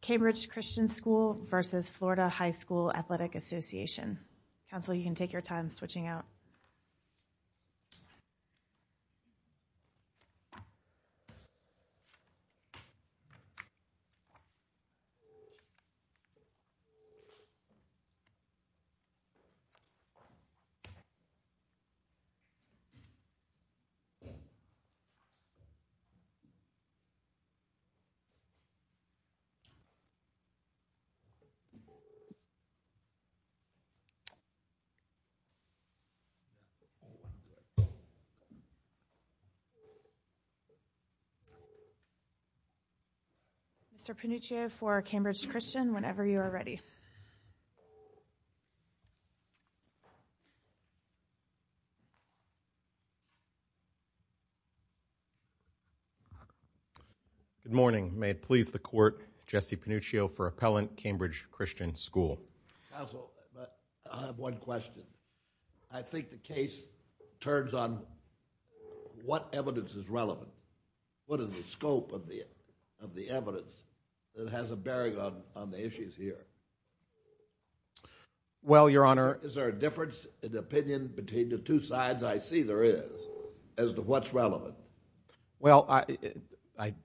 Cambridge Christian School, v. Florida High School Athletic Association. Counselor, you can take your time switching out. Mr. Pannuccio for Cambridge Christian, whenever you are ready. Good morning, may it please the Court, Jesse Pannuccio for Appellant, Cambridge Christian School. Counsel, I have one question. I think the case turns on what evidence is relevant, what is the scope of the evidence that has a bearing on the issues here? Well Your Honor. Is there a difference in opinion between the two sides, I see there is, as to what's relevant? Well, it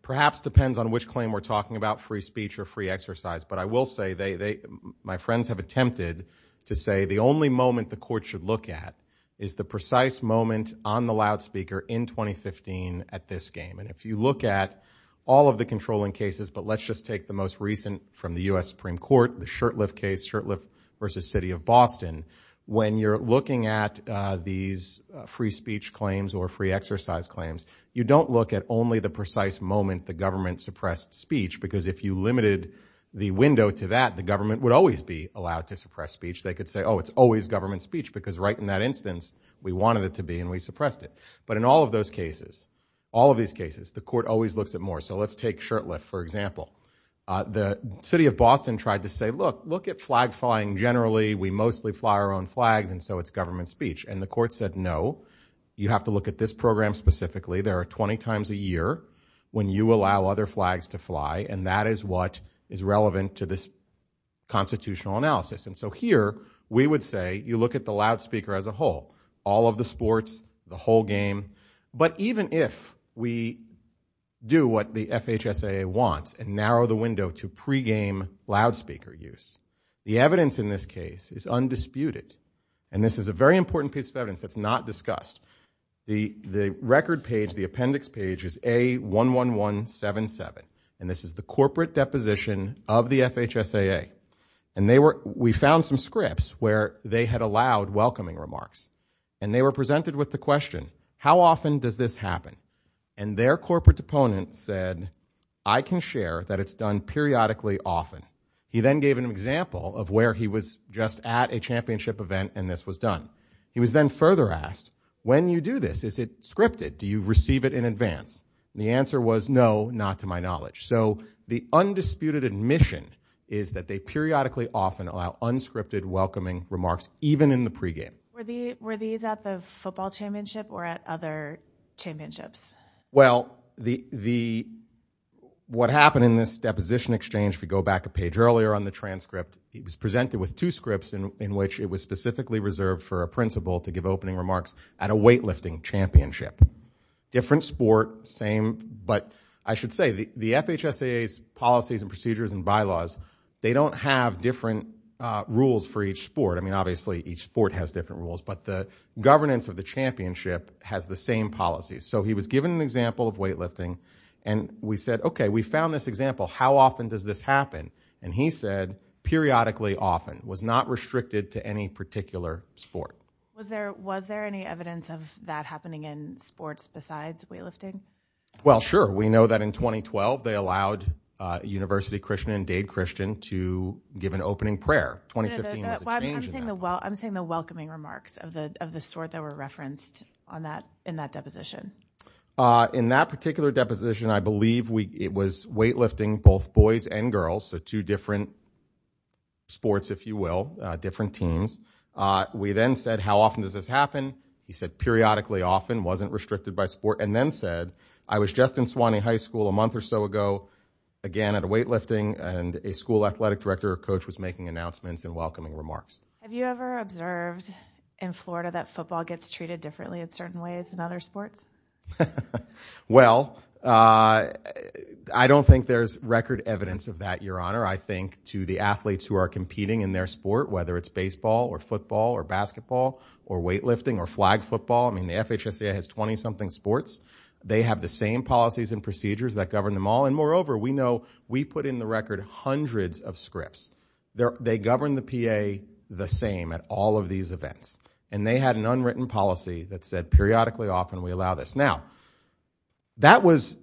perhaps depends on which claim we're talking about, free speech or free exercise, but I will say, my friends have attempted to say the only moment the Court should look at is the precise moment on the loudspeaker in 2015 at this game, and if you look at all of the controlling cases, but let's just take the most recent from the U.S. Supreme Court, the Shurtleff case, Shurtleff v. City of Boston. When you're looking at these free speech claims or free exercise claims, you don't look at only the precise moment the government suppressed speech, because if you limited the window to that, the government would always be allowed to suppress speech. They could say, oh, it's always government speech, because right in that instance we wanted it to be and we suppressed it. But in all of those cases, all of these cases, the Court always looks at more. So let's take Shurtleff, for example. The City of Boston tried to say, look, look at flag flying generally. We mostly fly our own flags, and so it's government speech. And the Court said, no, you have to look at this program specifically. There are 20 times a year when you allow other flags to fly, and that is what is relevant to this constitutional analysis. And so here, we would say, you look at the loudspeaker as a whole, all of the sports, the whole game, but even if we do what the FHSAA wants and narrow the window to pregame loudspeaker use, the evidence in this case is undisputed. And this is a very important piece of evidence that's not discussed. The record page, the appendix page is A11177, and this is the corporate deposition of the FHSAA. And we found some scripts where they had allowed welcoming remarks, and they were presented with the question, how often does this happen? And their corporate opponent said, I can share that it's done periodically often. He then gave an example of where he was just at a championship event and this was done. He was then further asked, when you do this, is it scripted? Do you receive it in advance? The answer was, no, not to my knowledge. So the undisputed admission is that they periodically often allow unscripted welcoming remarks even in the pregame. Were these at the football championship or at other championships? Well, what happened in this deposition exchange, if we go back a page earlier on the transcript, it was presented with two scripts in which it was specifically reserved for a principal to give opening remarks at a weightlifting championship. Different sport, same, but I should say, the FHSAA's policies and procedures and bylaws, they don't have different rules for each sport. I mean, obviously, each sport has different rules, but the governance of the championship has the same policies. So he was given an example of weightlifting and we said, okay, we found this example, how often does this happen? And he said, periodically often, was not restricted to any particular sport. Was there any evidence of that happening in sports besides weightlifting? Well, sure. We know that in 2012, they allowed University Christian and Dade Christian to give an opening prayer. 2015 was a change in that. I'm saying the welcoming remarks of the sort that were referenced in that deposition. In that particular deposition, I believe it was weightlifting both boys and girls, so two different sports, if you will, different teams. We then said, how often does this happen? He said, periodically often, wasn't restricted by sport, and then said, I was just in Suwannee High School a month or so ago, again, at a weightlifting and a school athletic director coach was making announcements and welcoming remarks. Have you ever observed in Florida that football gets treated differently in certain ways than other sports? Well, I don't think there's record evidence of that, Your Honor. I think to the athletes who are competing in their sport, whether it's baseball or football or basketball or weightlifting or flag football, I mean, the FHSA has 20-something sports. They have the same policies and procedures that govern them all, and moreover, we know we put in the record hundreds of scripts. They govern the PA the same at all of these events, and they had an unwritten policy that said periodically often we allow this. Now, that was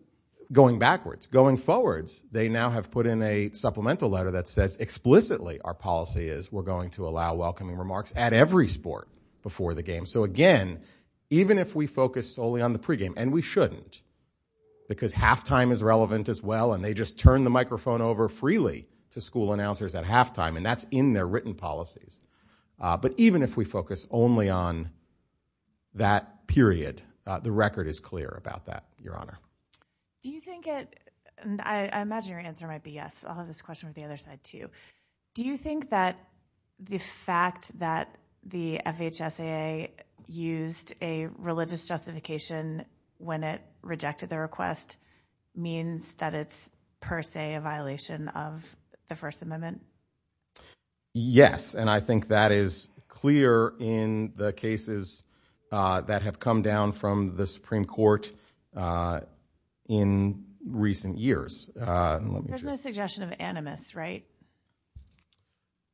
going backwards. Going forwards, they now have put in a supplemental letter that says explicitly our policy is we're going to allow welcoming remarks at every sport before the game. So again, even if we focus solely on the pregame, and we shouldn't, because halftime is relevant as well, and they just turn the microphone over freely to school announcers at halftime, and that's in their written policies. But even if we focus only on that period, the record is clear about that, Your Honor. Do you think it, and I imagine your answer might be yes, so I'll have this question on the other side too. Do you think that the fact that the FHSA used a religious justification when it rejected the request means that it's per se a violation of the First Amendment? Yes, and I think that is clear in the cases that have come down from the Supreme Court in recent years. There's no suggestion of animus, right?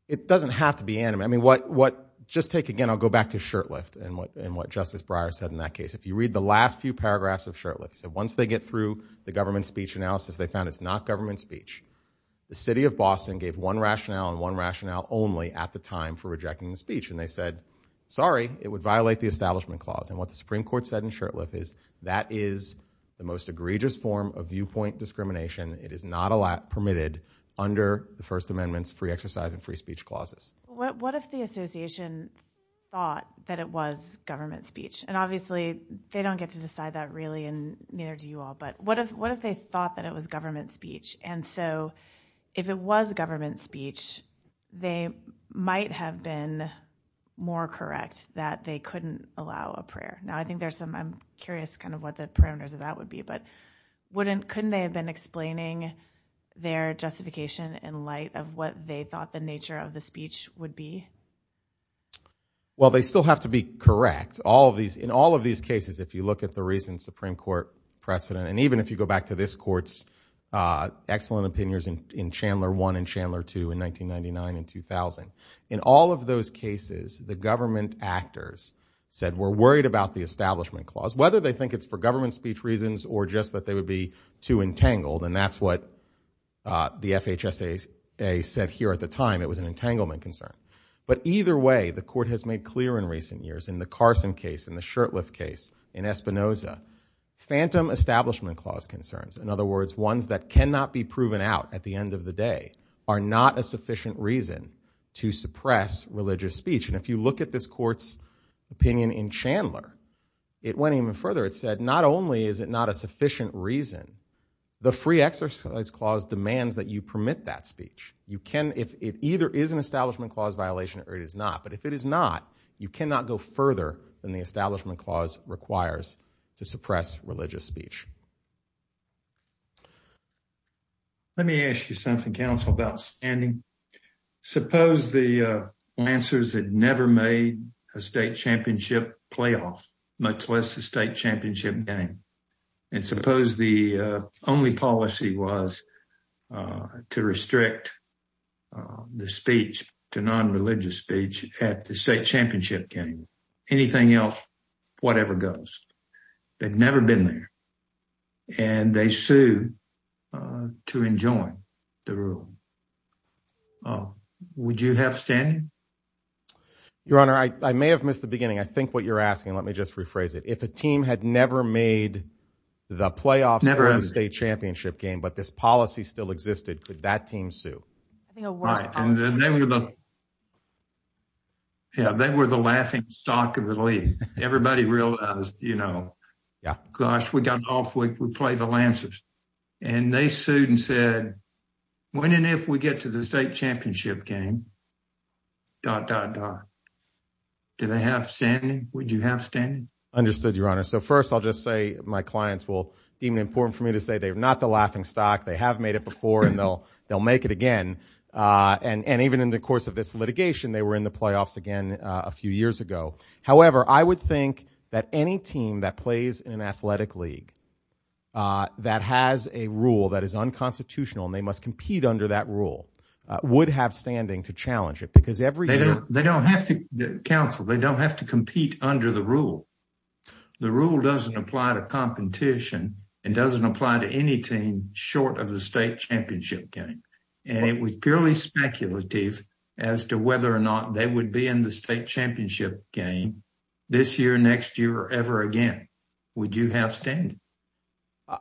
It doesn't have to be animus. I mean, what, just take again, I'll go back to shirt lift and what Justice Breyer said in that case. If you read the last few paragraphs of shirt lift, once they get through the government speech analysis, they found it's not government speech. The city of Boston gave one rationale and one rationale only at the time for rejecting the speech, and they said, sorry, it would violate the establishment clause. And what the Supreme Court said in shirt lift is, that is the most egregious form of viewpoint discrimination. It is not permitted under the First Amendment's free exercise and free speech clauses. What if the association thought that it was government speech? And obviously, they don't get to decide that really, and neither do you all, but what if they thought that it was government speech? And so, if it was government speech, they might have been more correct that they couldn't allow a prayer. Now, I think there's some, I'm curious kind of what the parameters of that would be, but wouldn't, couldn't they have been explaining their justification in light of what they thought the nature of the speech would be? Well, they still have to be correct. All of these, in all of these cases, if you look at the recent Supreme Court precedent, and even if you go back to this court's excellent opinions in Chandler 1 and Chandler 2 in 1999 and 2000, in all of those cases, the government actors said, we're worried about the establishment clause, whether they think it's for government speech reasons or just that they would be too entangled, and that's what the FHSA said here at the time, it was an entanglement concern. But either way, the court has made clear in recent years, in the Carson case, in the Shurtleff case, in Espinoza, phantom establishment clause concerns, in other words, ones that cannot be proven out at the end of the day, are not a sufficient reason to suppress religious speech. And if you look at this court's opinion in Chandler, it went even further, it said, not only is it not a sufficient reason, the free exercise clause demands that you permit that speech. You can, if it either is an establishment clause violation or it is not, but if it is not, you cannot go further than the establishment clause requires to suppress religious speech. Let me ask you something, counsel, about standing. Suppose the Lancers had never made a state championship playoff, much less a state championship game. And suppose the only policy was to restrict the speech to non-religious speech at the state championship game, anything else, whatever goes. They've never been there. And they sued to enjoin the rule. Would you have standing? Your Honor, I may have missed the beginning. I think what you're asking, let me just rephrase it. If a team had never made the playoffs, never had a state championship game, but this policy still existed, could that team sue? Right. And they were the laughing stock of the league. Everybody realized, you know, gosh, we got off, we play the Lancers. And they sued and said, when and if we get to the state championship game, dot, dot, dot. Do they have standing? Would you have standing? Understood, Your Honor. So first, I'll just say, my clients will deem it important for me to say they're not the laughing stock. They have made it before, and they'll make it again. And even in the course of this litigation, they were in the playoffs again a few years ago. However, I would think that any team that plays in an athletic league that has a rule that is unconstitutional, and they must compete under that rule, would have standing to challenge it. They don't have to, counsel, they don't have to compete under the rule. The rule doesn't apply to competition and doesn't apply to any team short of the state championship game. And it was purely speculative as to whether or not they would be in the state championship game this year, next year, or ever again. Would you have standing?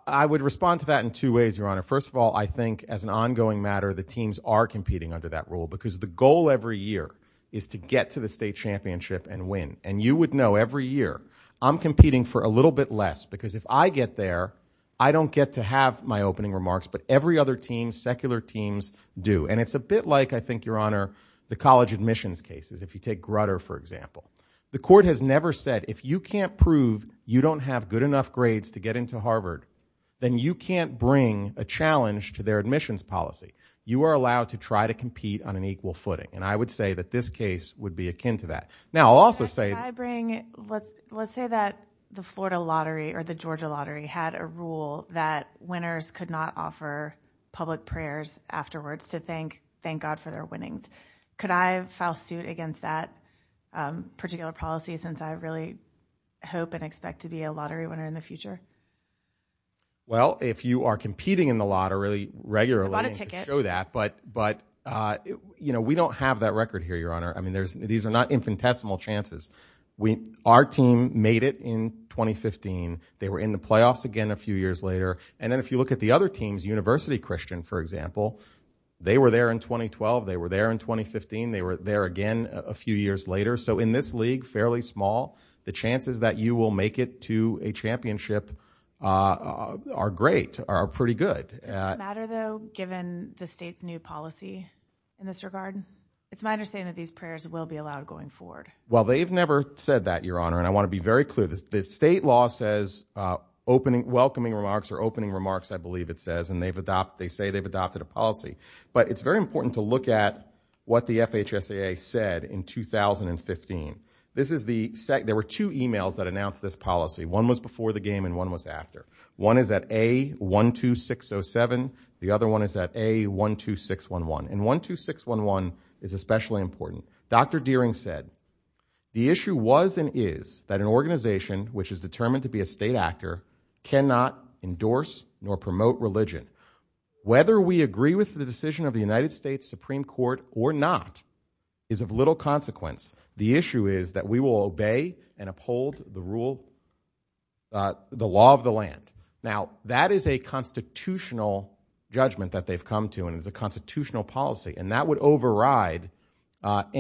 I would respond to that in two ways, Your Honor. First of all, I think as an ongoing matter, the teams are competing under that rule because the goal every year is to get to the state championship and win. And you would know every year, I'm competing for a little bit less because if I get there, I don't get to have my opening remarks, but every other team, secular teams, do. And it's a bit like, I think, Your Honor, the college admissions cases, if you take Grutter for example. The court has never said, if you can't prove you don't have good enough grades to get into Harvard, then you can't bring a challenge to their admissions policy. You are allowed to try to compete on an equal footing. And I would say that this case would be akin to that. Now I'll also say- Can I bring, let's say that the Florida lottery or the Georgia lottery had a rule that winners could not offer public prayers afterwards to thank God for their winnings. Could I file suit against that particular policy since I really hope and expect to be a lottery winner in the future? Well if you are competing in the lottery regularly- I can show that, but we don't have that record here, Your Honor. These are not infinitesimal chances. Our team made it in 2015. They were in the playoffs again a few years later. And then if you look at the other teams, University Christian, for example, they were there in 2012. They were there in 2015. They were there again a few years later. So in this league, fairly small, the chances that you will make it to a championship are great, are pretty good. Does it matter, though, given the state's new policy in this regard? It's my understanding that these prayers will be allowed going forward. Well they've never said that, Your Honor, and I want to be very clear. The state law says welcoming remarks or opening remarks, I believe it says, and they say they've adopted a policy. But it's very important to look at what the FHSAA said in 2015. This is the- there were two emails that announced this policy. One was before the game and one was after. One is at A12607, the other one is at A12611, and 12611 is especially important. Dr. Deering said, the issue was and is that an organization which is determined to be a state actor cannot endorse nor promote religion. Whether we agree with the decision of the United States Supreme Court or not is of little consequence. The issue is that we will obey and uphold the rule- the law of the land. Now that is a constitutional judgment that they've come to and it's a constitutional policy and that would override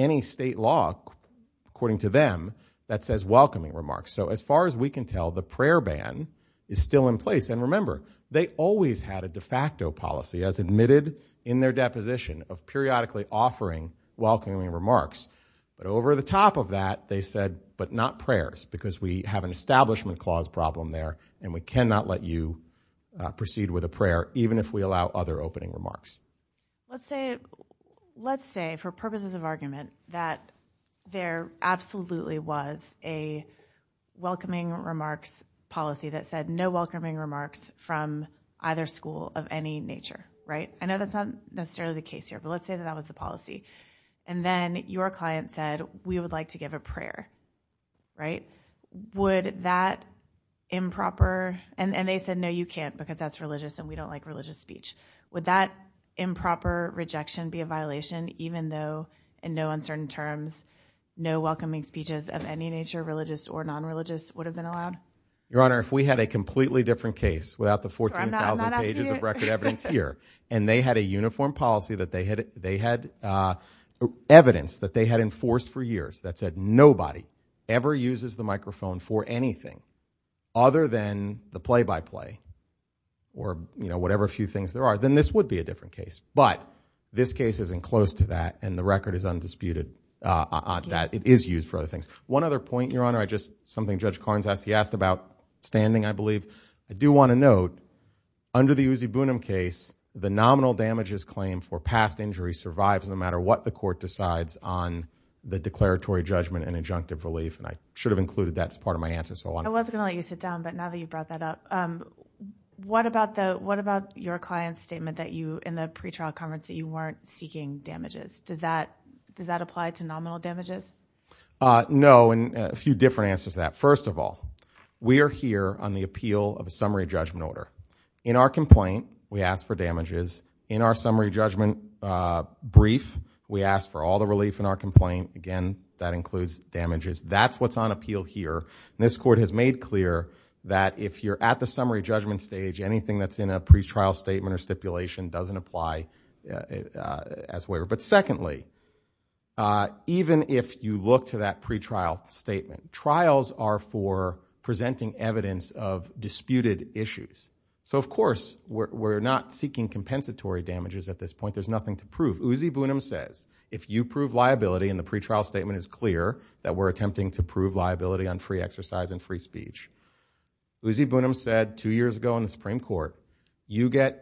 any state law, according to them, that says welcoming remarks. So as far as we can tell, the prayer ban is still in place. And remember, they always had a de facto policy as admitted in their deposition of periodically offering welcoming remarks. But over the top of that, they said, but not prayers because we have an establishment clause problem there and we cannot let you proceed with a prayer, even if we allow other opening remarks. Let's say- let's say, for purposes of argument, that there absolutely was a welcoming remarks policy that said no welcoming remarks from either school of any nature, right? I know that's not necessarily the case here, but let's say that that was the policy. And then your client said, we would like to give a prayer, right? Would that improper- and they said, no, you can't because that's religious and we don't like religious speech. Would that improper rejection be a violation, even though in no uncertain terms, no welcoming speeches of any nature, religious or non-religious, would have been allowed? Your Honor, if we had a completely different case without the 14,000 pages of record evidence here, and they had a uniform policy that they had- they had evidence that they had enforced for years that said nobody ever uses the microphone for anything other than the play-by-play or, you know, whatever few things there are, then this would be a different case. But this case isn't close to that and the record is undisputed that it is used for other things. One other point, Your Honor, I just- something Judge Carnes asked- he asked about standing, I believe. I do want to note, under the Uzibunim case, the nominal damages claim for past injury survives no matter what the court decides on the declaratory judgment and adjunctive relief and I should have included that as part of my answer, so I want to- I was going to let you sit down, but now that you brought that up, what about the- what about your client's statement that you- in the pretrial conference that you weren't seeking damages? Does that- does that apply to nominal damages? No, and a few different answers to that. First of all, we are here on the appeal of a summary judgment order. In our complaint, we ask for damages. In our summary judgment brief, we ask for all the relief in our complaint. Again, that includes damages. That's what's on appeal here. This Court has made clear that if you're at the summary judgment stage, anything that's in a pretrial statement or stipulation doesn't apply as waiver. But secondly, even if you look to that pretrial statement, trials are for presenting evidence of disputed issues. So of course, we're not seeking compensatory damages at this point. There's nothing to prove. Uzi Bunim says, if you prove liability and the pretrial statement is clear that we're attempting to prove liability on free exercise and free speech, Uzi Bunim said two years ago in the Supreme Court, you get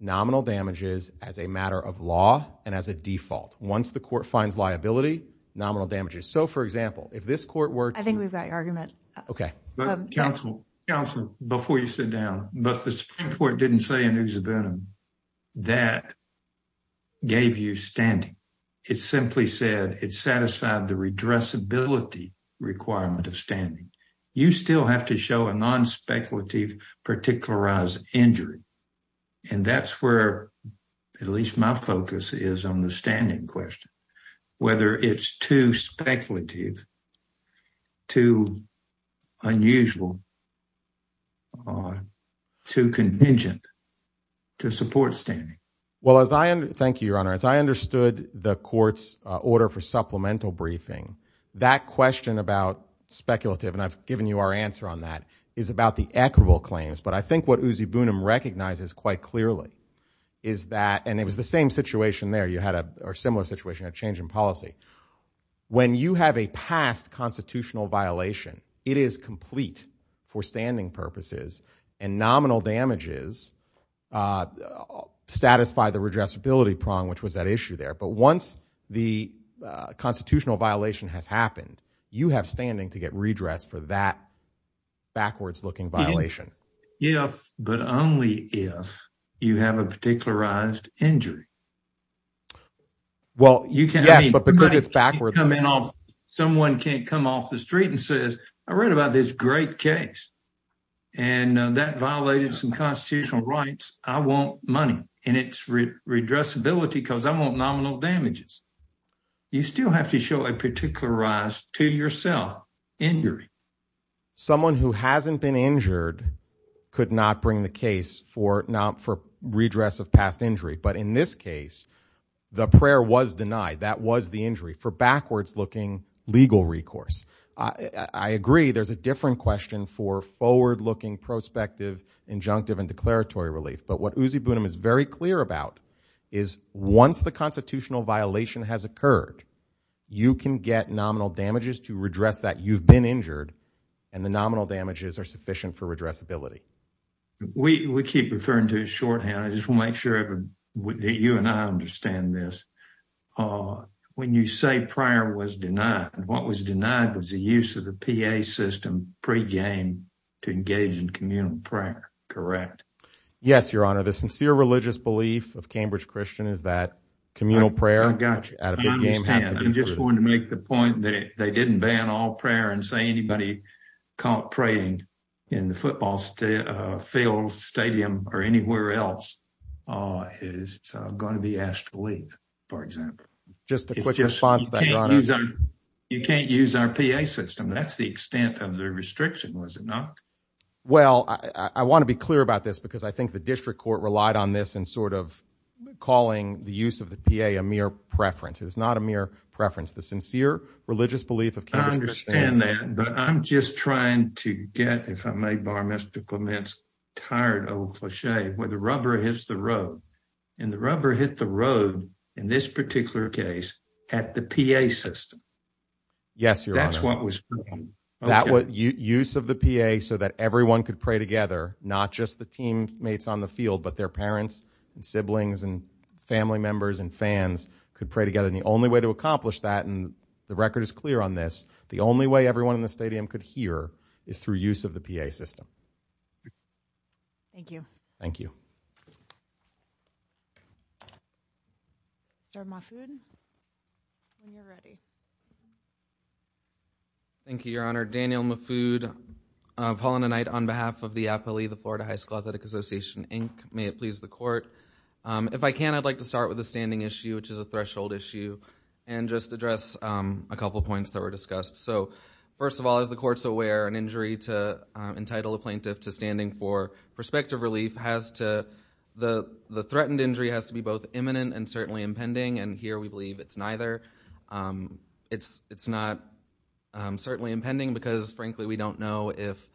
nominal damages as a matter of law and as a default. Once the Court finds liability, nominal damages. So for example, if this Court were to- I think we've got your argument. Okay. Counsel, counsel, before you sit down, but the Supreme Court didn't say in Uzi Bunim that gave you standing. It simply said it satisfied the redressability requirement of standing. You still have to show a non-speculative particularized injury. And that's where at least my focus is on the standing question. Whether it's too speculative, too unusual, too contingent to support standing. Well, as I- thank you, Your Honor. As I understood the Court's order for supplemental briefing, that question about speculative and I've given you our answer on that, is about the equitable claims. But I think what Uzi Bunim recognizes quite clearly is that- and it was the same situation there. You had a similar situation, a change in policy. When you have a past constitutional violation, it is complete for standing purposes and nominal damages satisfy the redressability prong, which was that issue there. But once the constitutional violation has happened, you have standing to get redressed for that backwards-looking violation. If, but only if, you have a particularized injury. Well, you can- Yes, but because it's backwards- Somebody can come in off- someone can't come off the street and says, I read about this great case and that violated some constitutional rights. I want money and it's redressability because I want nominal damages. You still have to show a particularized to yourself injury. Someone who hasn't been injured could not bring the case for not- for redress of past injury. But in this case, the prayer was denied. That was the injury for backwards-looking legal recourse. I agree there's a different question for forward-looking prospective, injunctive, and declaratory relief. But what Uzi Bunim is very clear about is once the constitutional violation has occurred, you can get nominal damages to redress that. You've been injured and the nominal damages are sufficient for redressability. We keep referring to it shorthand. I just want to make sure that you and I understand this. When you say prayer was denied, what was denied was the use of the PA system pre-game to engage in communal prayer. Correct. Yes, Your Honor. The sincere religious belief of Cambridge Christian is that communal prayer out of the game has to be- I'm just going to make the point that they didn't ban all prayer and say anybody caught praying in the football field, stadium, or anywhere else is going to be asked to leave, for example. Just a quick response to that, Your Honor. You can't use our PA system. That's the extent of the restriction, was it not? Well, I want to be clear about this because I think the district court relied on this in sort of calling the use of the PA a mere preference. It is not a mere preference. The sincere religious belief of Cambridge Christian- I understand that. But I'm just trying to get, if I may bar Mr. Clement's tired old cliche, where the rubber hits the road. And the rubber hit the road, in this particular case, at the PA system. Yes, Your Honor. That's what was- Use of the PA so that everyone could pray together, not just the teammates on the field, but their parents and siblings and family members and fans could pray together. And the only way to accomplish that, and the record is clear on this, the only way everyone in the stadium could hear is through use of the PA system. Thank you. Thank you. Is there more food? When you're ready. Thank you, Your Honor. Daniel Maffud of Holland and Knight on behalf of the APALE, the Florida High School Athletic Association Inc. May it please the court. If I can, I'd like to start with the standing issue, which is a threshold issue, and just address a couple points that were discussed. So first of all, as the court's aware, an injury to entitle a plaintiff to standing for prospective relief has to- the threatened injury has to be both imminent and certainly impending. And here we believe it's neither. It's not certainly impending because, frankly, we don't know if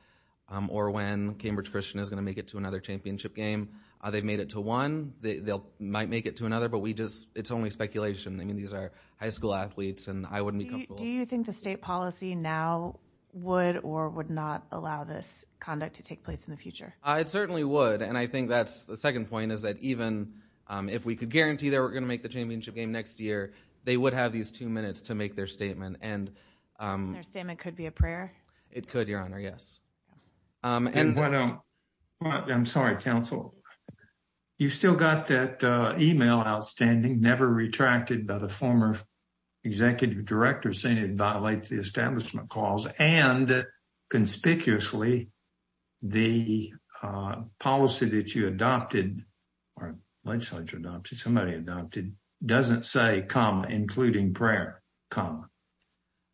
or when Cambridge Christian is going to make it to another championship game. They've made it to one, they might make it to another, but we just- it's only speculation. I mean, these are high school athletes and I wouldn't be comfortable- Do you think the state policy now would or would not allow this conduct to take place in the future? It certainly would. And I think that's the second point is that even if we could guarantee they were going to make the championship game next year, they would have these two minutes to make their statement. And- Their statement could be a prayer? It could, Your Honor, yes. And- I'm sorry, counsel. You still got that email outstanding, never retracted by the former executive director saying it violates the establishment clause, and conspicuously the policy that you adopted or legislature adopted, somebody adopted, doesn't say, comma, including prayer, comma.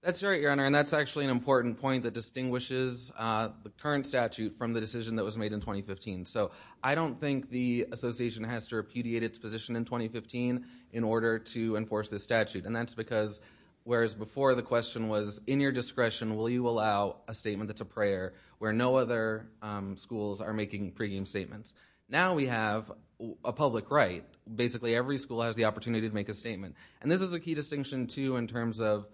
That's right, Your Honor. And that's actually an important point that distinguishes the current statute from the decision that was made in 2015. So I don't think the association has to repudiate its position in 2015 in order to enforce this statute. And that's because whereas before the question was, in your discretion, will you allow a statement that's a prayer where no other schools are making pregame statements? Now we have a public right. Basically every school has the opportunity to make a statement. And this is a key distinction, too, in terms of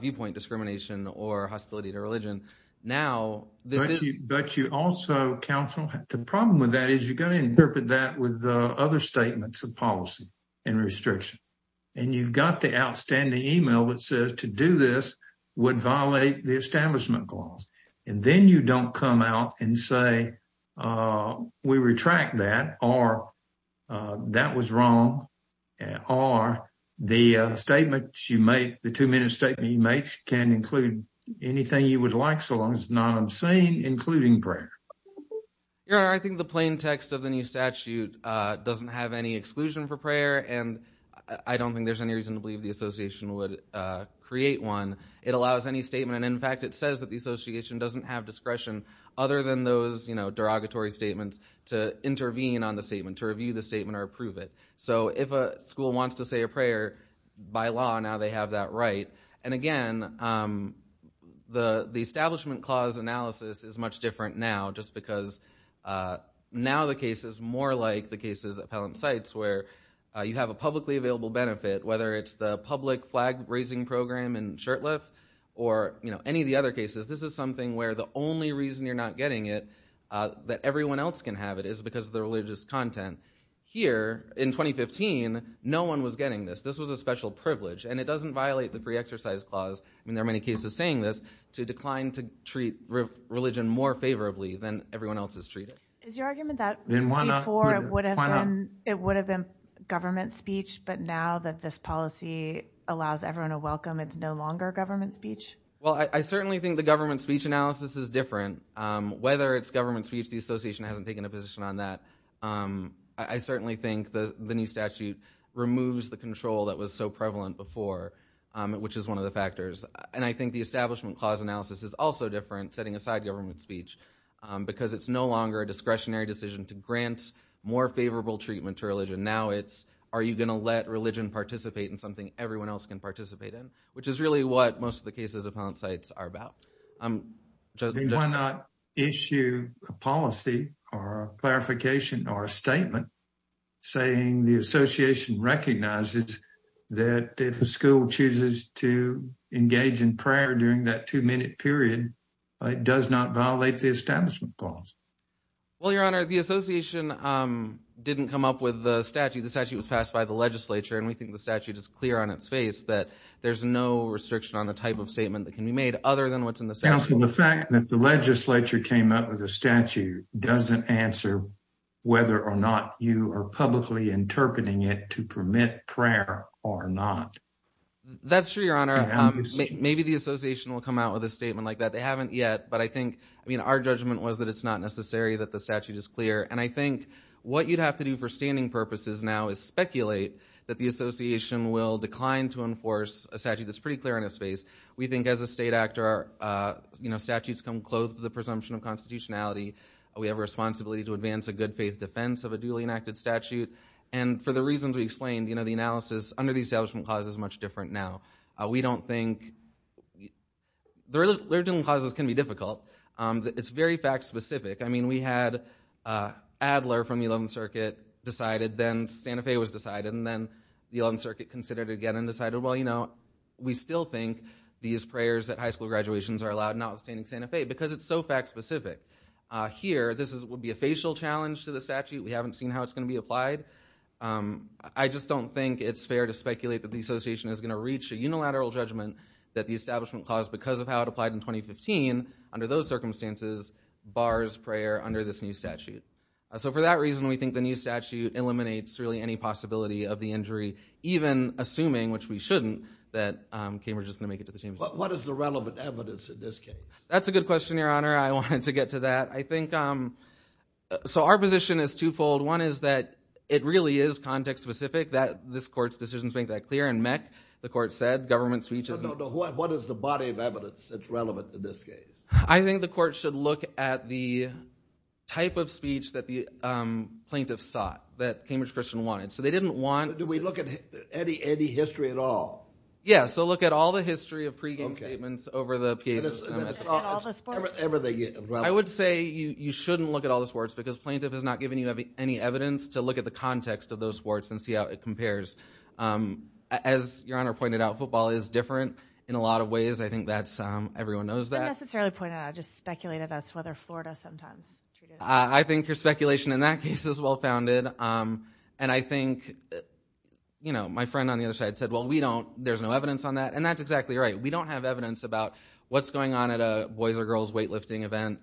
viewpoint discrimination or hostility to religion. Now, this is- But you also, counsel, the problem with that is you're going to interpret that with other statements of policy and restriction. And you've got the outstanding email that says to do this would violate the establishment clause. And then you don't come out and say, we retract that, or that was wrong, or the statements you make, the two-minute statement you make, can include anything you would like so long as it's not obscene, including prayer. Your Honor, I think the plain text of the new statute doesn't have any exclusion for prayer and I don't think there's any reason to believe the association would create one. It allows any statement. In fact, it says that the association doesn't have discretion other than those derogatory statements to intervene on the statement, to review the statement, or approve it. So if a school wants to say a prayer, by law, now they have that right. And again, the establishment clause analysis is much different now just because now the case is more like the cases appellant cites where you have a publicly available benefit, whether it's the public flag-raising program in Shurtleff or any of the other cases, this is something where the only reason you're not getting it that everyone else can have it is because of the religious content. Here, in 2015, no one was getting this. This was a special privilege. And it doesn't violate the pre-exercise clause, and there are many cases saying this, to decline to treat religion more favorably than everyone else is treated. Is your argument that before it would have been government speech, but now that this policy allows everyone a welcome, it's no longer government speech? Well, I certainly think the government speech analysis is different. Whether it's government speech, the association hasn't taken a position on that. I certainly think the new statute removes the control that was so prevalent before, which is one of the factors. And I think the establishment clause analysis is also different, setting aside government speech, because it's no longer a discretionary decision to grant more favorable treatment to religion. Now it's, are you going to let religion participate in something everyone else can participate in? Which is really what most of the cases upon sites are about. And why not issue a policy or a clarification or a statement saying the association recognizes that if a school chooses to engage in prayer during that two-minute period, it does not violate the establishment clause? Well, Your Honor, the association didn't come up with the statute. The statute was passed by the legislature, and we think the statute is clear on its face that there's no restriction on the type of statement that can be made other than what's in the statute. Counsel, the fact that the legislature came up with a statute doesn't answer whether or not you are publicly interpreting it to permit prayer or not. That's true, Your Honor. Maybe the association will come out with a statement like that. They haven't yet. But I think, I mean, our judgment was that it's not necessary that the statute is clear. And I think what you'd have to do for standing purposes now is speculate that the association will decline to enforce a statute that's pretty clear on its face. We think as a state actor, you know, statutes come close to the presumption of constitutionality. We have a responsibility to advance a good faith defense of a duly enacted statute. And for the reasons we explained, you know, the analysis under the establishment clause is much different now. We don't think, the religion clauses can be difficult. It's very fact specific. I mean, we had Adler from the 11th Circuit decided, then Santa Fe was decided, and then the 11th Circuit considered it again and decided, well, you know, we still think these prayers at high school graduations are allowed, not withstanding Santa Fe, because it's so fact specific. Here, this would be a facial challenge to the statute. We haven't seen how it's going to be applied. I just don't think it's fair to speculate that the association is going to reach a unilateral judgment that the establishment clause, because of how it applied in 2015, under those circumstances, bars prayer under this new statute. So for that reason, we think the new statute eliminates really any possibility of the injury, even assuming, which we shouldn't, that Cambridge is going to make it to the championship. What is the relevant evidence in this case? That's a good question, Your Honor. I wanted to get to that. I think, so our position is twofold. One is that it really is context-specific, that this Court's decisions make that clear, and MEC, the Court said, government speech is... No, no, no. What is the body of evidence that's relevant in this case? I think the Court should look at the type of speech that the plaintiffs sought, that Cambridge Christian wanted. So they didn't want... Do we look at any history at all? Yeah, so look at all the history of pregame statements over the years. Okay. And all the sports? Everything. I would say you shouldn't look at all the sports, because plaintiff has not given you any evidence to look at the context of those sports and see how it compares. As Your Honor pointed out, football is different in a lot of ways. I think that's... Everyone knows that. I didn't necessarily point it out. I just speculated as to whether Florida sometimes treated it differently. I think your speculation in that case is well-founded. And I think, you know, my friend on the other side said, well, we don't... There's no evidence on that. And that's exactly right. We don't have evidence about what's going on at a boys or girls weightlifting event.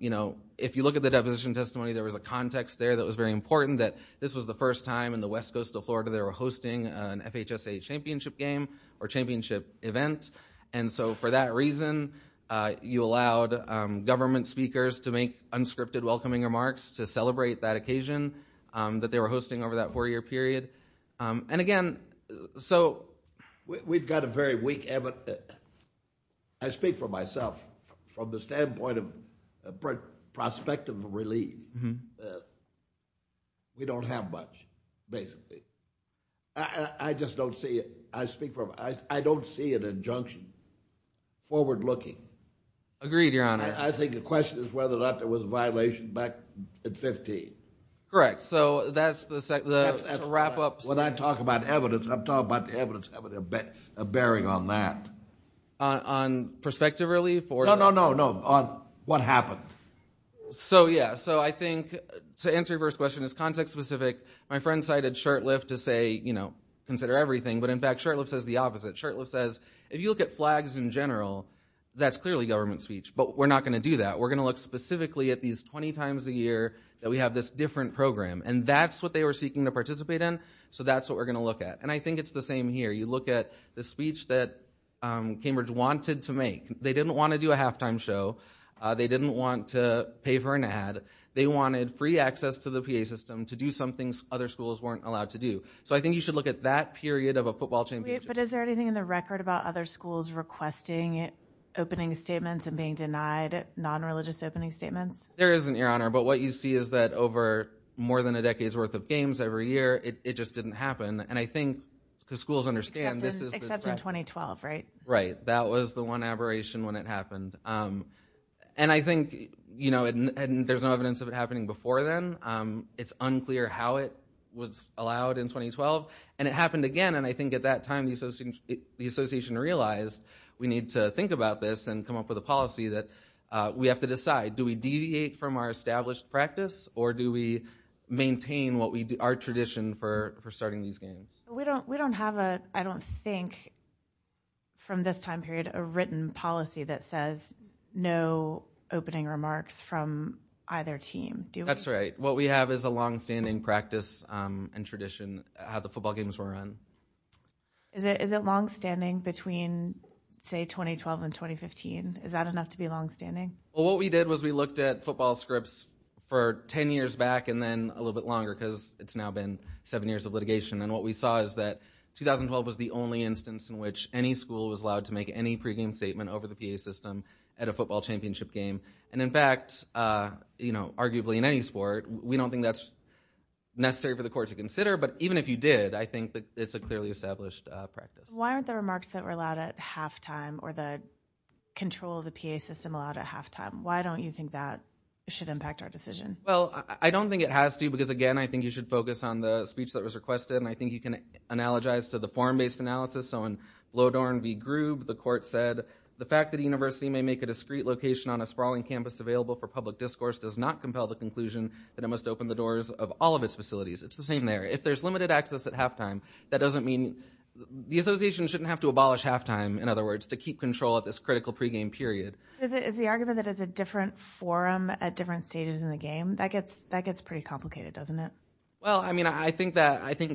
You know, if you look at the deposition testimony, there was a context there that was very important that this was the first time in the West Coast of Florida they were hosting an FHSA championship game or championship event. And so for that reason, you allowed government speakers to make unscripted welcoming remarks to celebrate that occasion that they were hosting over that four-year period. And again, so... We've got a very weak evidence. But I speak for myself, from the standpoint of prospective relief, we don't have much, basically. I just don't see it. I speak for... I don't see an injunction forward-looking. Agreed, Your Honor. I think the question is whether or not there was a violation back in 15. Correct. So that's the wrap-up... When I talk about evidence, I'm talking about the evidence having a bearing on that. On prospective relief or... No, no, no, no. On what happened. So yeah. So I think, to answer your first question, it's context-specific. My friend cited shirtlift to say, you know, consider everything, but in fact, shirtlift says the opposite. Shirtlift says, if you look at flags in general, that's clearly government speech, but we're not going to do that. We're going to look specifically at these 20 times a year that we have this different program. And that's what they were seeking to participate in, so that's what we're going to look at. And I think it's the same here. You look at the speech that Cambridge wanted to make. They didn't want to do a halftime show. They didn't want to pay for an ad. They wanted free access to the PA system to do some things other schools weren't allowed to do. So I think you should look at that period of a football championship. But is there anything in the record about other schools requesting opening statements and being denied non-religious opening statements? There isn't, Your Honor. But what you see is that over more than a decade's worth of games every year, it just didn't happen. And I think, because schools understand, this is the... Except in 2012, right? Right. That was the one aberration when it happened. And I think there's no evidence of it happening before then. It's unclear how it was allowed in 2012. And it happened again. And I think at that time, the association realized we need to think about this and come up with a policy that we have to decide, do we deviate from our established practice, or do we maintain our tradition for starting these games? We don't have a, I don't think, from this time period, a written policy that says no opening remarks from either team, do we? That's right. What we have is a longstanding practice and tradition of how the football games were run. Is it longstanding between, say, 2012 and 2015? Is that enough to be longstanding? What we did was we looked at football scripts for 10 years back and then a little bit longer because it's now been seven years of litigation. And what we saw is that 2012 was the only instance in which any school was allowed to make any pregame statement over the PA system at a football championship game. And in fact, arguably in any sport, we don't think that's necessary for the court to consider. But even if you did, I think that it's a clearly established practice. Why aren't the remarks that were allowed at halftime or the control of the PA system allowed at halftime? Why don't you think that should impact our decision? Well, I don't think it has to because, again, I think you should focus on the speech that was requested. And I think you can analogize to the form-based analysis. So in Lodorn v. Groob, the court said, the fact that a university may make a discrete location on a sprawling campus available for public discourse does not compel the conclusion that it must open the doors of all of its facilities. It's the same there. If there's limited access at halftime, that doesn't mean, the association shouldn't have to abolish halftime, in other words, to keep control at this critical pregame period. Is the argument that it's a different forum at different stages in the game, that gets pretty complicated, doesn't it? Well, I mean, I think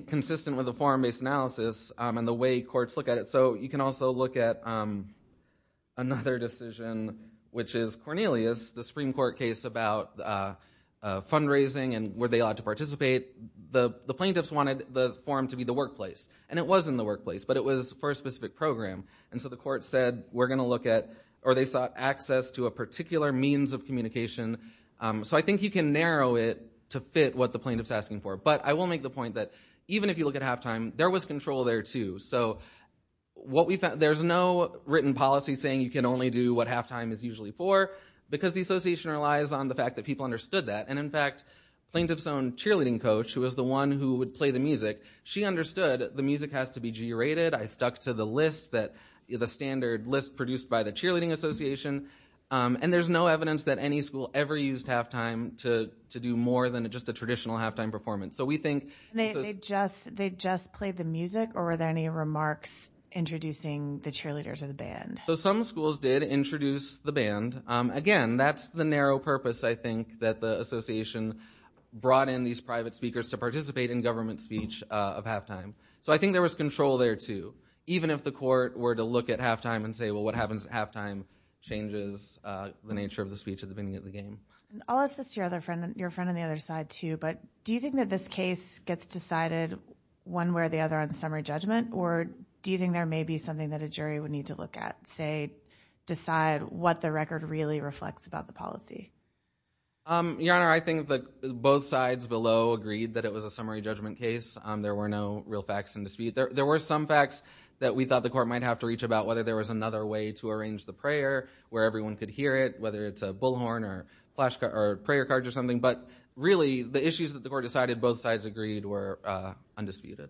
consistent with the form-based analysis and the way courts look at it. So you can also look at another decision, which is Cornelius, the Supreme Court case about fundraising and were they allowed to participate. The plaintiffs wanted the forum to be the workplace. And it was in the workplace, but it was for a specific program. And so the court said, we're going to look at, or they sought access to a particular means of communication. So I think you can narrow it to fit what the plaintiff's asking for. But I will make the point that even if you look at halftime, there was control there, too. So what we found, there's no written policy saying you can only do what halftime is usually for, because the association relies on the fact that people understood that. And in fact, plaintiff's own cheerleading coach, who was the one who would play the music, she understood the music has to be G-rated. I stuck to the list, the standard list produced by the cheerleading association. And there's no evidence that any school ever used halftime to do more than just a traditional halftime performance. So we think... They just played the music? Or were there any remarks introducing the cheerleaders of the band? So some schools did introduce the band. Again, that's the narrow purpose, I think, that the association brought in these private speakers to participate in government speech of halftime. So I think there was control there, too. Even if the court were to look at halftime and say, well, what happens at halftime changes the nature of the speech at the beginning of the game. I'll ask this to your friend on the other side, too, but do you think that this case gets decided one way or the other on summary judgment? Or do you think there may be something that a jury would need to look at, say, decide what the record really reflects about the policy? Your Honor, I think both sides below agreed that it was a summary judgment case. There were no real facts in dispute. There were some facts that we thought the court might have to reach about, whether there was another way to arrange the prayer where everyone could hear it, whether it's a bullhorn or prayer cards or something. But really, the issues that the court decided both sides agreed were undisputed.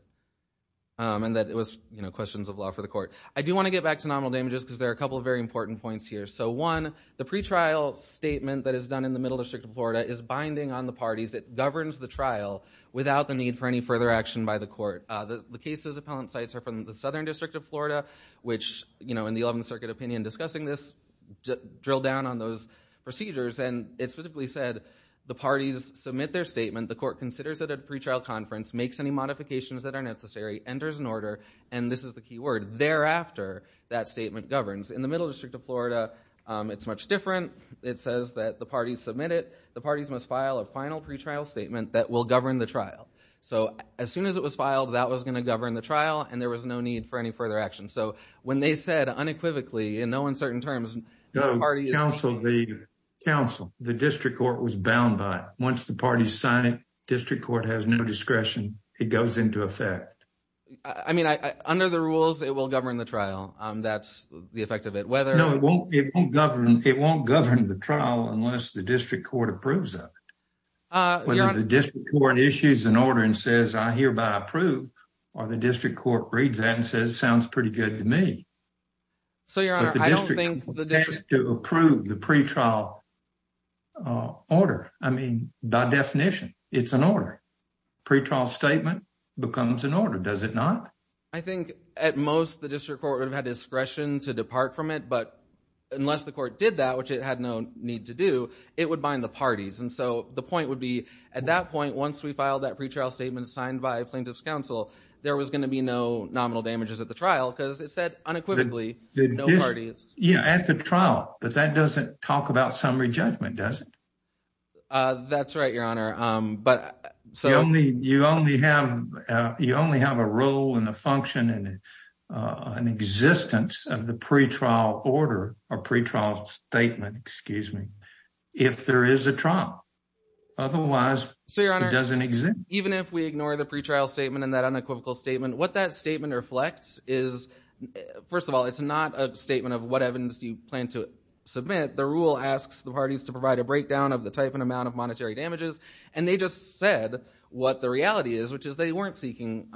And that it was questions of law for the court. I do want to get back to nominal damages, because there are a couple of very important points here. So one, the pretrial statement that is done in the middle district of Florida is binding on the parties. It governs the trial without the need for any further action by the court. The case's appellant sites are from the Southern District of Florida, which, in the 11th Circuit opinion discussing this, drilled down on those procedures. And it specifically said, the parties submit their statement, the court considers it a pretrial conference, makes any modifications that are necessary, enters an order. And this is the key word, thereafter, that statement governs. In the middle district of Florida, it's much different. It says that the parties submit it. The parties must file a final pretrial statement that will govern the trial. So as soon as it was filed, that was going to govern the trial, and there was no need for any further action. So when they said, unequivocally, in no uncertain terms, the parties- No, counsel, the district court was bound by it. Once the parties sign it, district court has no discretion. It goes into effect. I mean, under the rules, it will govern the trial. That's the effect of it. Whether- It won't govern the trial unless the district court approves of it. Whether the district court issues an order and says, I hereby approve, or the district court reads that and says, sounds pretty good to me. So your honor, I don't think- But the district court has to approve the pretrial order. I mean, by definition, it's an order. Pretrial statement becomes an order, does it not? I think, at most, the district court would have had discretion to depart from it. But unless the court did that, which it had no need to do, it would bind the parties. And so the point would be, at that point, once we filed that pretrial statement signed by a plaintiff's counsel, there was going to be no nominal damages at the trial because it said, unequivocally, no parties. Yeah, at the trial, but that doesn't talk about summary judgment, does it? That's right, your honor, but- You only have a role and a function and an existence of the pretrial order, or pretrial statement, excuse me, if there is a trial. Otherwise, it doesn't exist. Even if we ignore the pretrial statement and that unequivocal statement, what that statement reflects is, first of all, it's not a statement of what evidence do you plan to submit. The rule asks the parties to provide a breakdown of the type and amount of monetary damages. And they just said what the reality is, which is they weren't seeking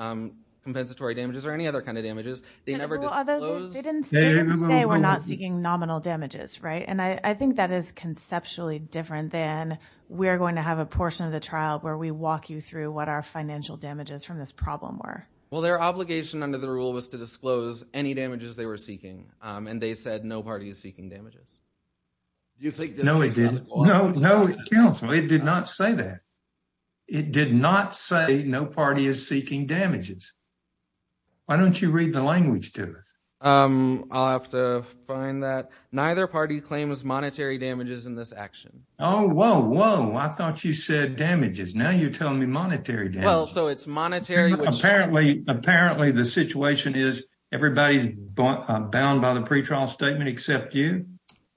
compensatory damages or any other kind of damages. They never disclosed- They didn't say we're not seeking nominal damages, right? And I think that is conceptually different than we're going to have a portion of the trial where we walk you through what our financial damages from this problem were. Well, their obligation under the rule was to disclose any damages they were seeking. And they said no party is seeking damages. You think- No, it didn't. No, no, counsel, it did not say that. It did not say no party is seeking damages. Why don't you read the language to it? I'll have to find that. Neither party claims monetary damages in this action. Oh, whoa, whoa. I thought you said damages. Now you're telling me monetary damages. Well, so it's monetary which- Apparently, apparently the situation is everybody's bound by the pretrial statement except you?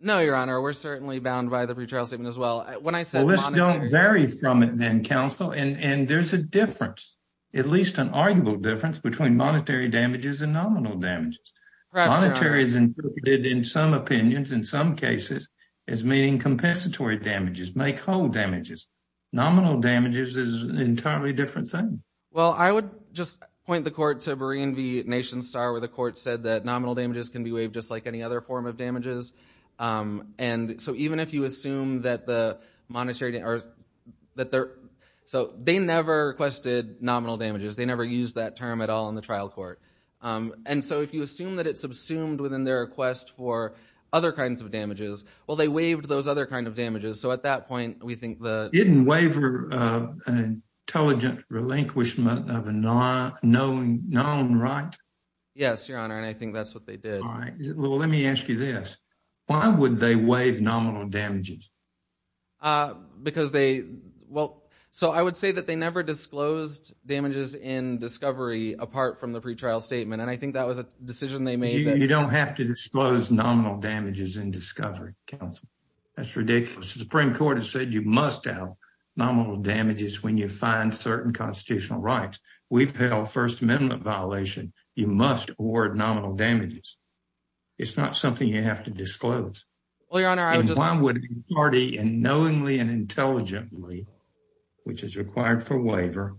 No, Your Honor. We're certainly bound by the pretrial statement as well. When I said monetary- Well, let's don't vary from it then, counsel. And there's a difference, at least an arguable difference, between monetary damages and nominal damages. Correct, Your Honor. Monetary is interpreted in some opinions, in some cases, as meaning compensatory damages, make whole damages. Nominal damages is an entirely different thing. Well, I would just point the court to Berean v. Nation Star, where the court said that And so even if you assume that the monetary- So they never requested nominal damages. They never used that term at all in the trial court. And so if you assume that it's subsumed within their request for other kinds of damages, well, they waived those other kinds of damages. So at that point, we think the- Didn't waiver an intelligent relinquishment of a known right? Yes, Your Honor, and I think that's what they did. Well, let me ask you this. Why would they waive nominal damages? Because they, well, so I would say that they never disclosed damages in discovery apart from the pretrial statement. And I think that was a decision they made that- You don't have to disclose nominal damages in discovery, counsel. That's ridiculous. The Supreme Court has said you must have nominal damages when you find certain constitutional rights. We've held First Amendment violation. You must award nominal damages. It's not something you have to disclose. Well, Your Honor, I would just- And why would a party, and knowingly and intelligently, which is required for waiver,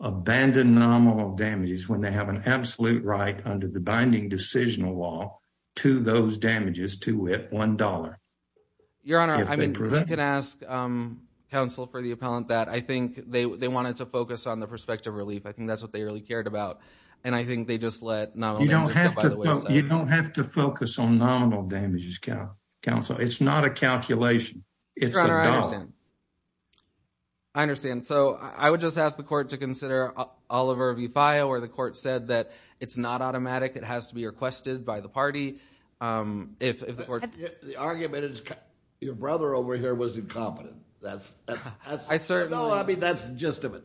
abandon nominal damages when they have an absolute right under the binding decisional law to those damages to with $1? Your Honor, I mean, you can ask counsel for the appellant that. I think they wanted to focus on the prospective relief. I think that's what they really cared about. And I think they just let nominal damages go by the wayside. You don't have to focus on nominal damages, counsel. It's not a calculation. It's a dollar. Your Honor, I understand. I understand. So, I would just ask the court to consider Oliver v. Faya where the court said that it's not automatic. It has to be requested by the party if the court- The argument is your brother over here was incompetent. That's- I certainly- No, I mean, that's the gist of it.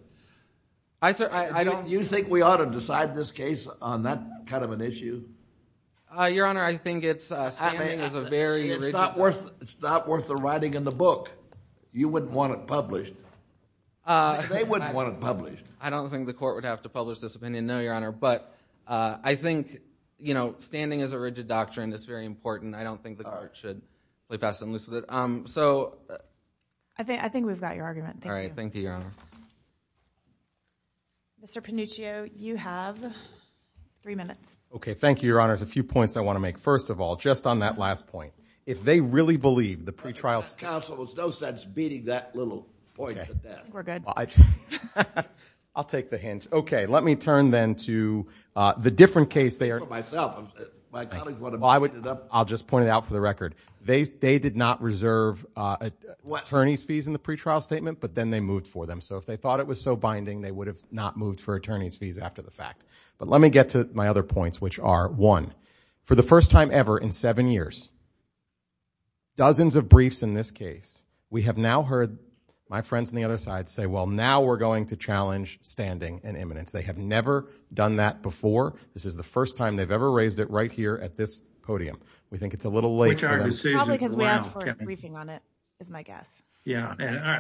I don't- I don't think the court would have to publish this opinion, no, Your Honor, but I think standing is a rigid doctrine. It's very important. I don't think the court should play fast and loose with it. I think we've got your argument. All right. Thank you, Your Honor. Mr. Panuccio, you have three minutes. Okay. Thank you, Your Honor. There's a few points I want to make. First of all, just on that last point, if they really believe the pretrial- I think that counsel has no sense beating that little point to death. Okay. We're good. I'll take the hint. Okay. Let me turn then to the different case they are- For myself. My colleagues want to- Well, I'll just point it out for the record. They did not reserve attorney's fees in the pretrial statement, but then they moved for them. So if they thought it was so binding, they would have not moved for attorney's fees after the fact. But let me get to my other points, which are, one, for the first time ever in seven years, dozens of briefs in this case, we have now heard my friends on the other side say, well, now we're going to challenge standing and eminence. They have never done that before. This is the first time they've ever raised it right here at this podium. We think it's a little late for them. Which our decision- Probably because we asked for a briefing on it, is my guess. Yeah.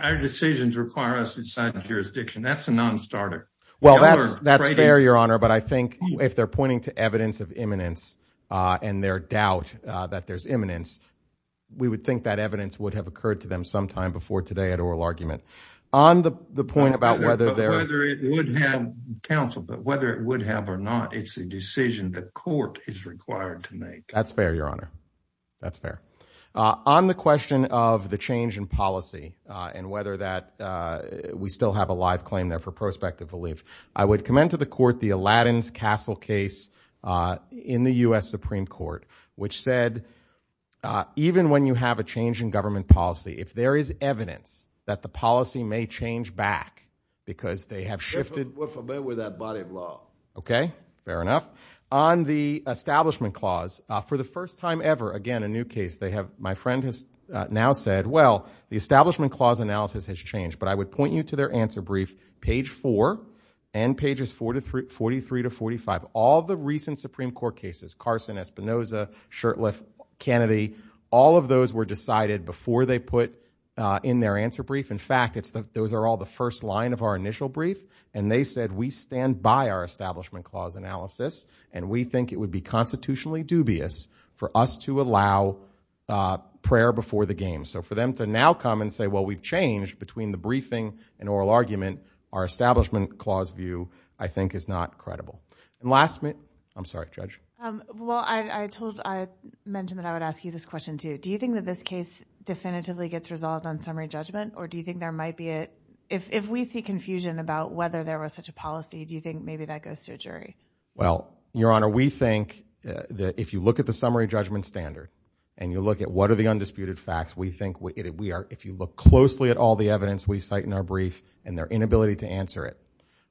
Our decisions require us inside the jurisdiction. That's a non-starter. Well, that's fair, Your Honor. But I think if they're pointing to evidence of eminence and their doubt that there's eminence, we would think that evidence would have occurred to them sometime before today at oral argument. On the point about whether they're- Whether it would have counseled, but whether it would have or not, it's a decision the court is required to make. That's fair, Your Honor. That's fair. On the question of the change in policy and whether that we still have a live claim there for prospective relief, I would commend to the court the Alladin's Castle case in the U.S. Supreme Court, which said even when you have a change in government policy, if there is evidence that the policy may change back because they have shifted- We're familiar with that body of law. Okay. Fair enough. On the Establishment Clause, for the first time ever, again, a new case, they have- My friend has now said, well, the Establishment Clause analysis has changed. But I would point you to their answer brief, page four and pages 43 to 45, all the recent Supreme Court cases, Carson, Espinoza, Shurtleff, Kennedy, all of those were decided before they put in their answer brief. In fact, those are all the first line of our initial brief. And they said, we stand by our Establishment Clause analysis, and we think it would be constitutionally dubious for us to allow prayer before the game. So for them to now come and say, well, we've changed between the briefing and oral argument, our Establishment Clause view, I think, is not credible. And last minute- I'm sorry, Judge. Well, I mentioned that I would ask you this question too. Do you think that this case definitively gets resolved on summary judgment, or do you think there might be a- if we see confusion about whether there was such a policy, do you think maybe that goes to a jury? Well, Your Honor, we think that if you look at the summary judgment standard, and you look at what are the undisputed facts, we think we are- if you look closely at all the evidence we cite in our brief, and their inability to answer it,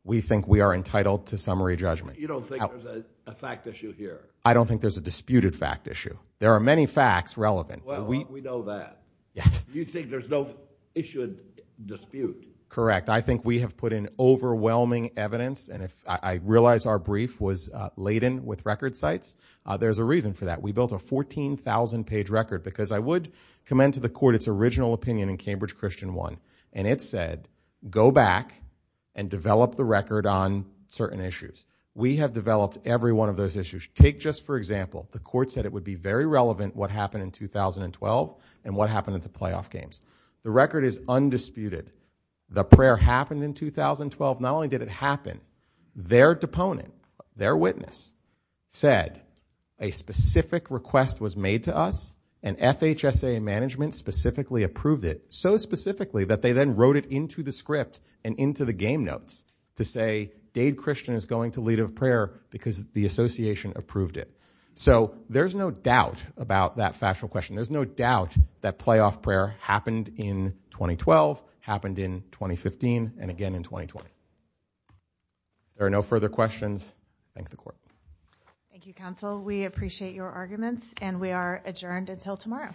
we think we are entitled to summary judgment. You don't think there's a fact issue here? I don't think there's a disputed fact issue. There are many facts relevant. Well, we know that. You think there's no issue and dispute? Correct. I think we have put in overwhelming evidence, and if I realize our brief was laden with record cites, there's a reason for that. We built a 14,000-page record, because I would commend to the Court its original opinion in Cambridge Christian I, and it said, go back and develop the record on certain issues. We have developed every one of those issues. Take just for example, the Court said it would be very relevant what happened in 2012, and what happened at the playoff games. The record is undisputed. The prayer happened in 2012. Not only did it happen, their deponent, their witness, said a specific request was made to us, and FHSA management specifically approved it, so specifically that they then wrote it into the script and into the game notes to say, Dade Christian is going to lead a prayer because the association approved it. So there's no doubt about that factual question. There's no doubt that playoff prayer happened in 2012, happened in 2015, and again in 2020. There are no further questions. Thank the Court. Thank you, Counsel. We appreciate your arguments, and we are adjourned until tomorrow.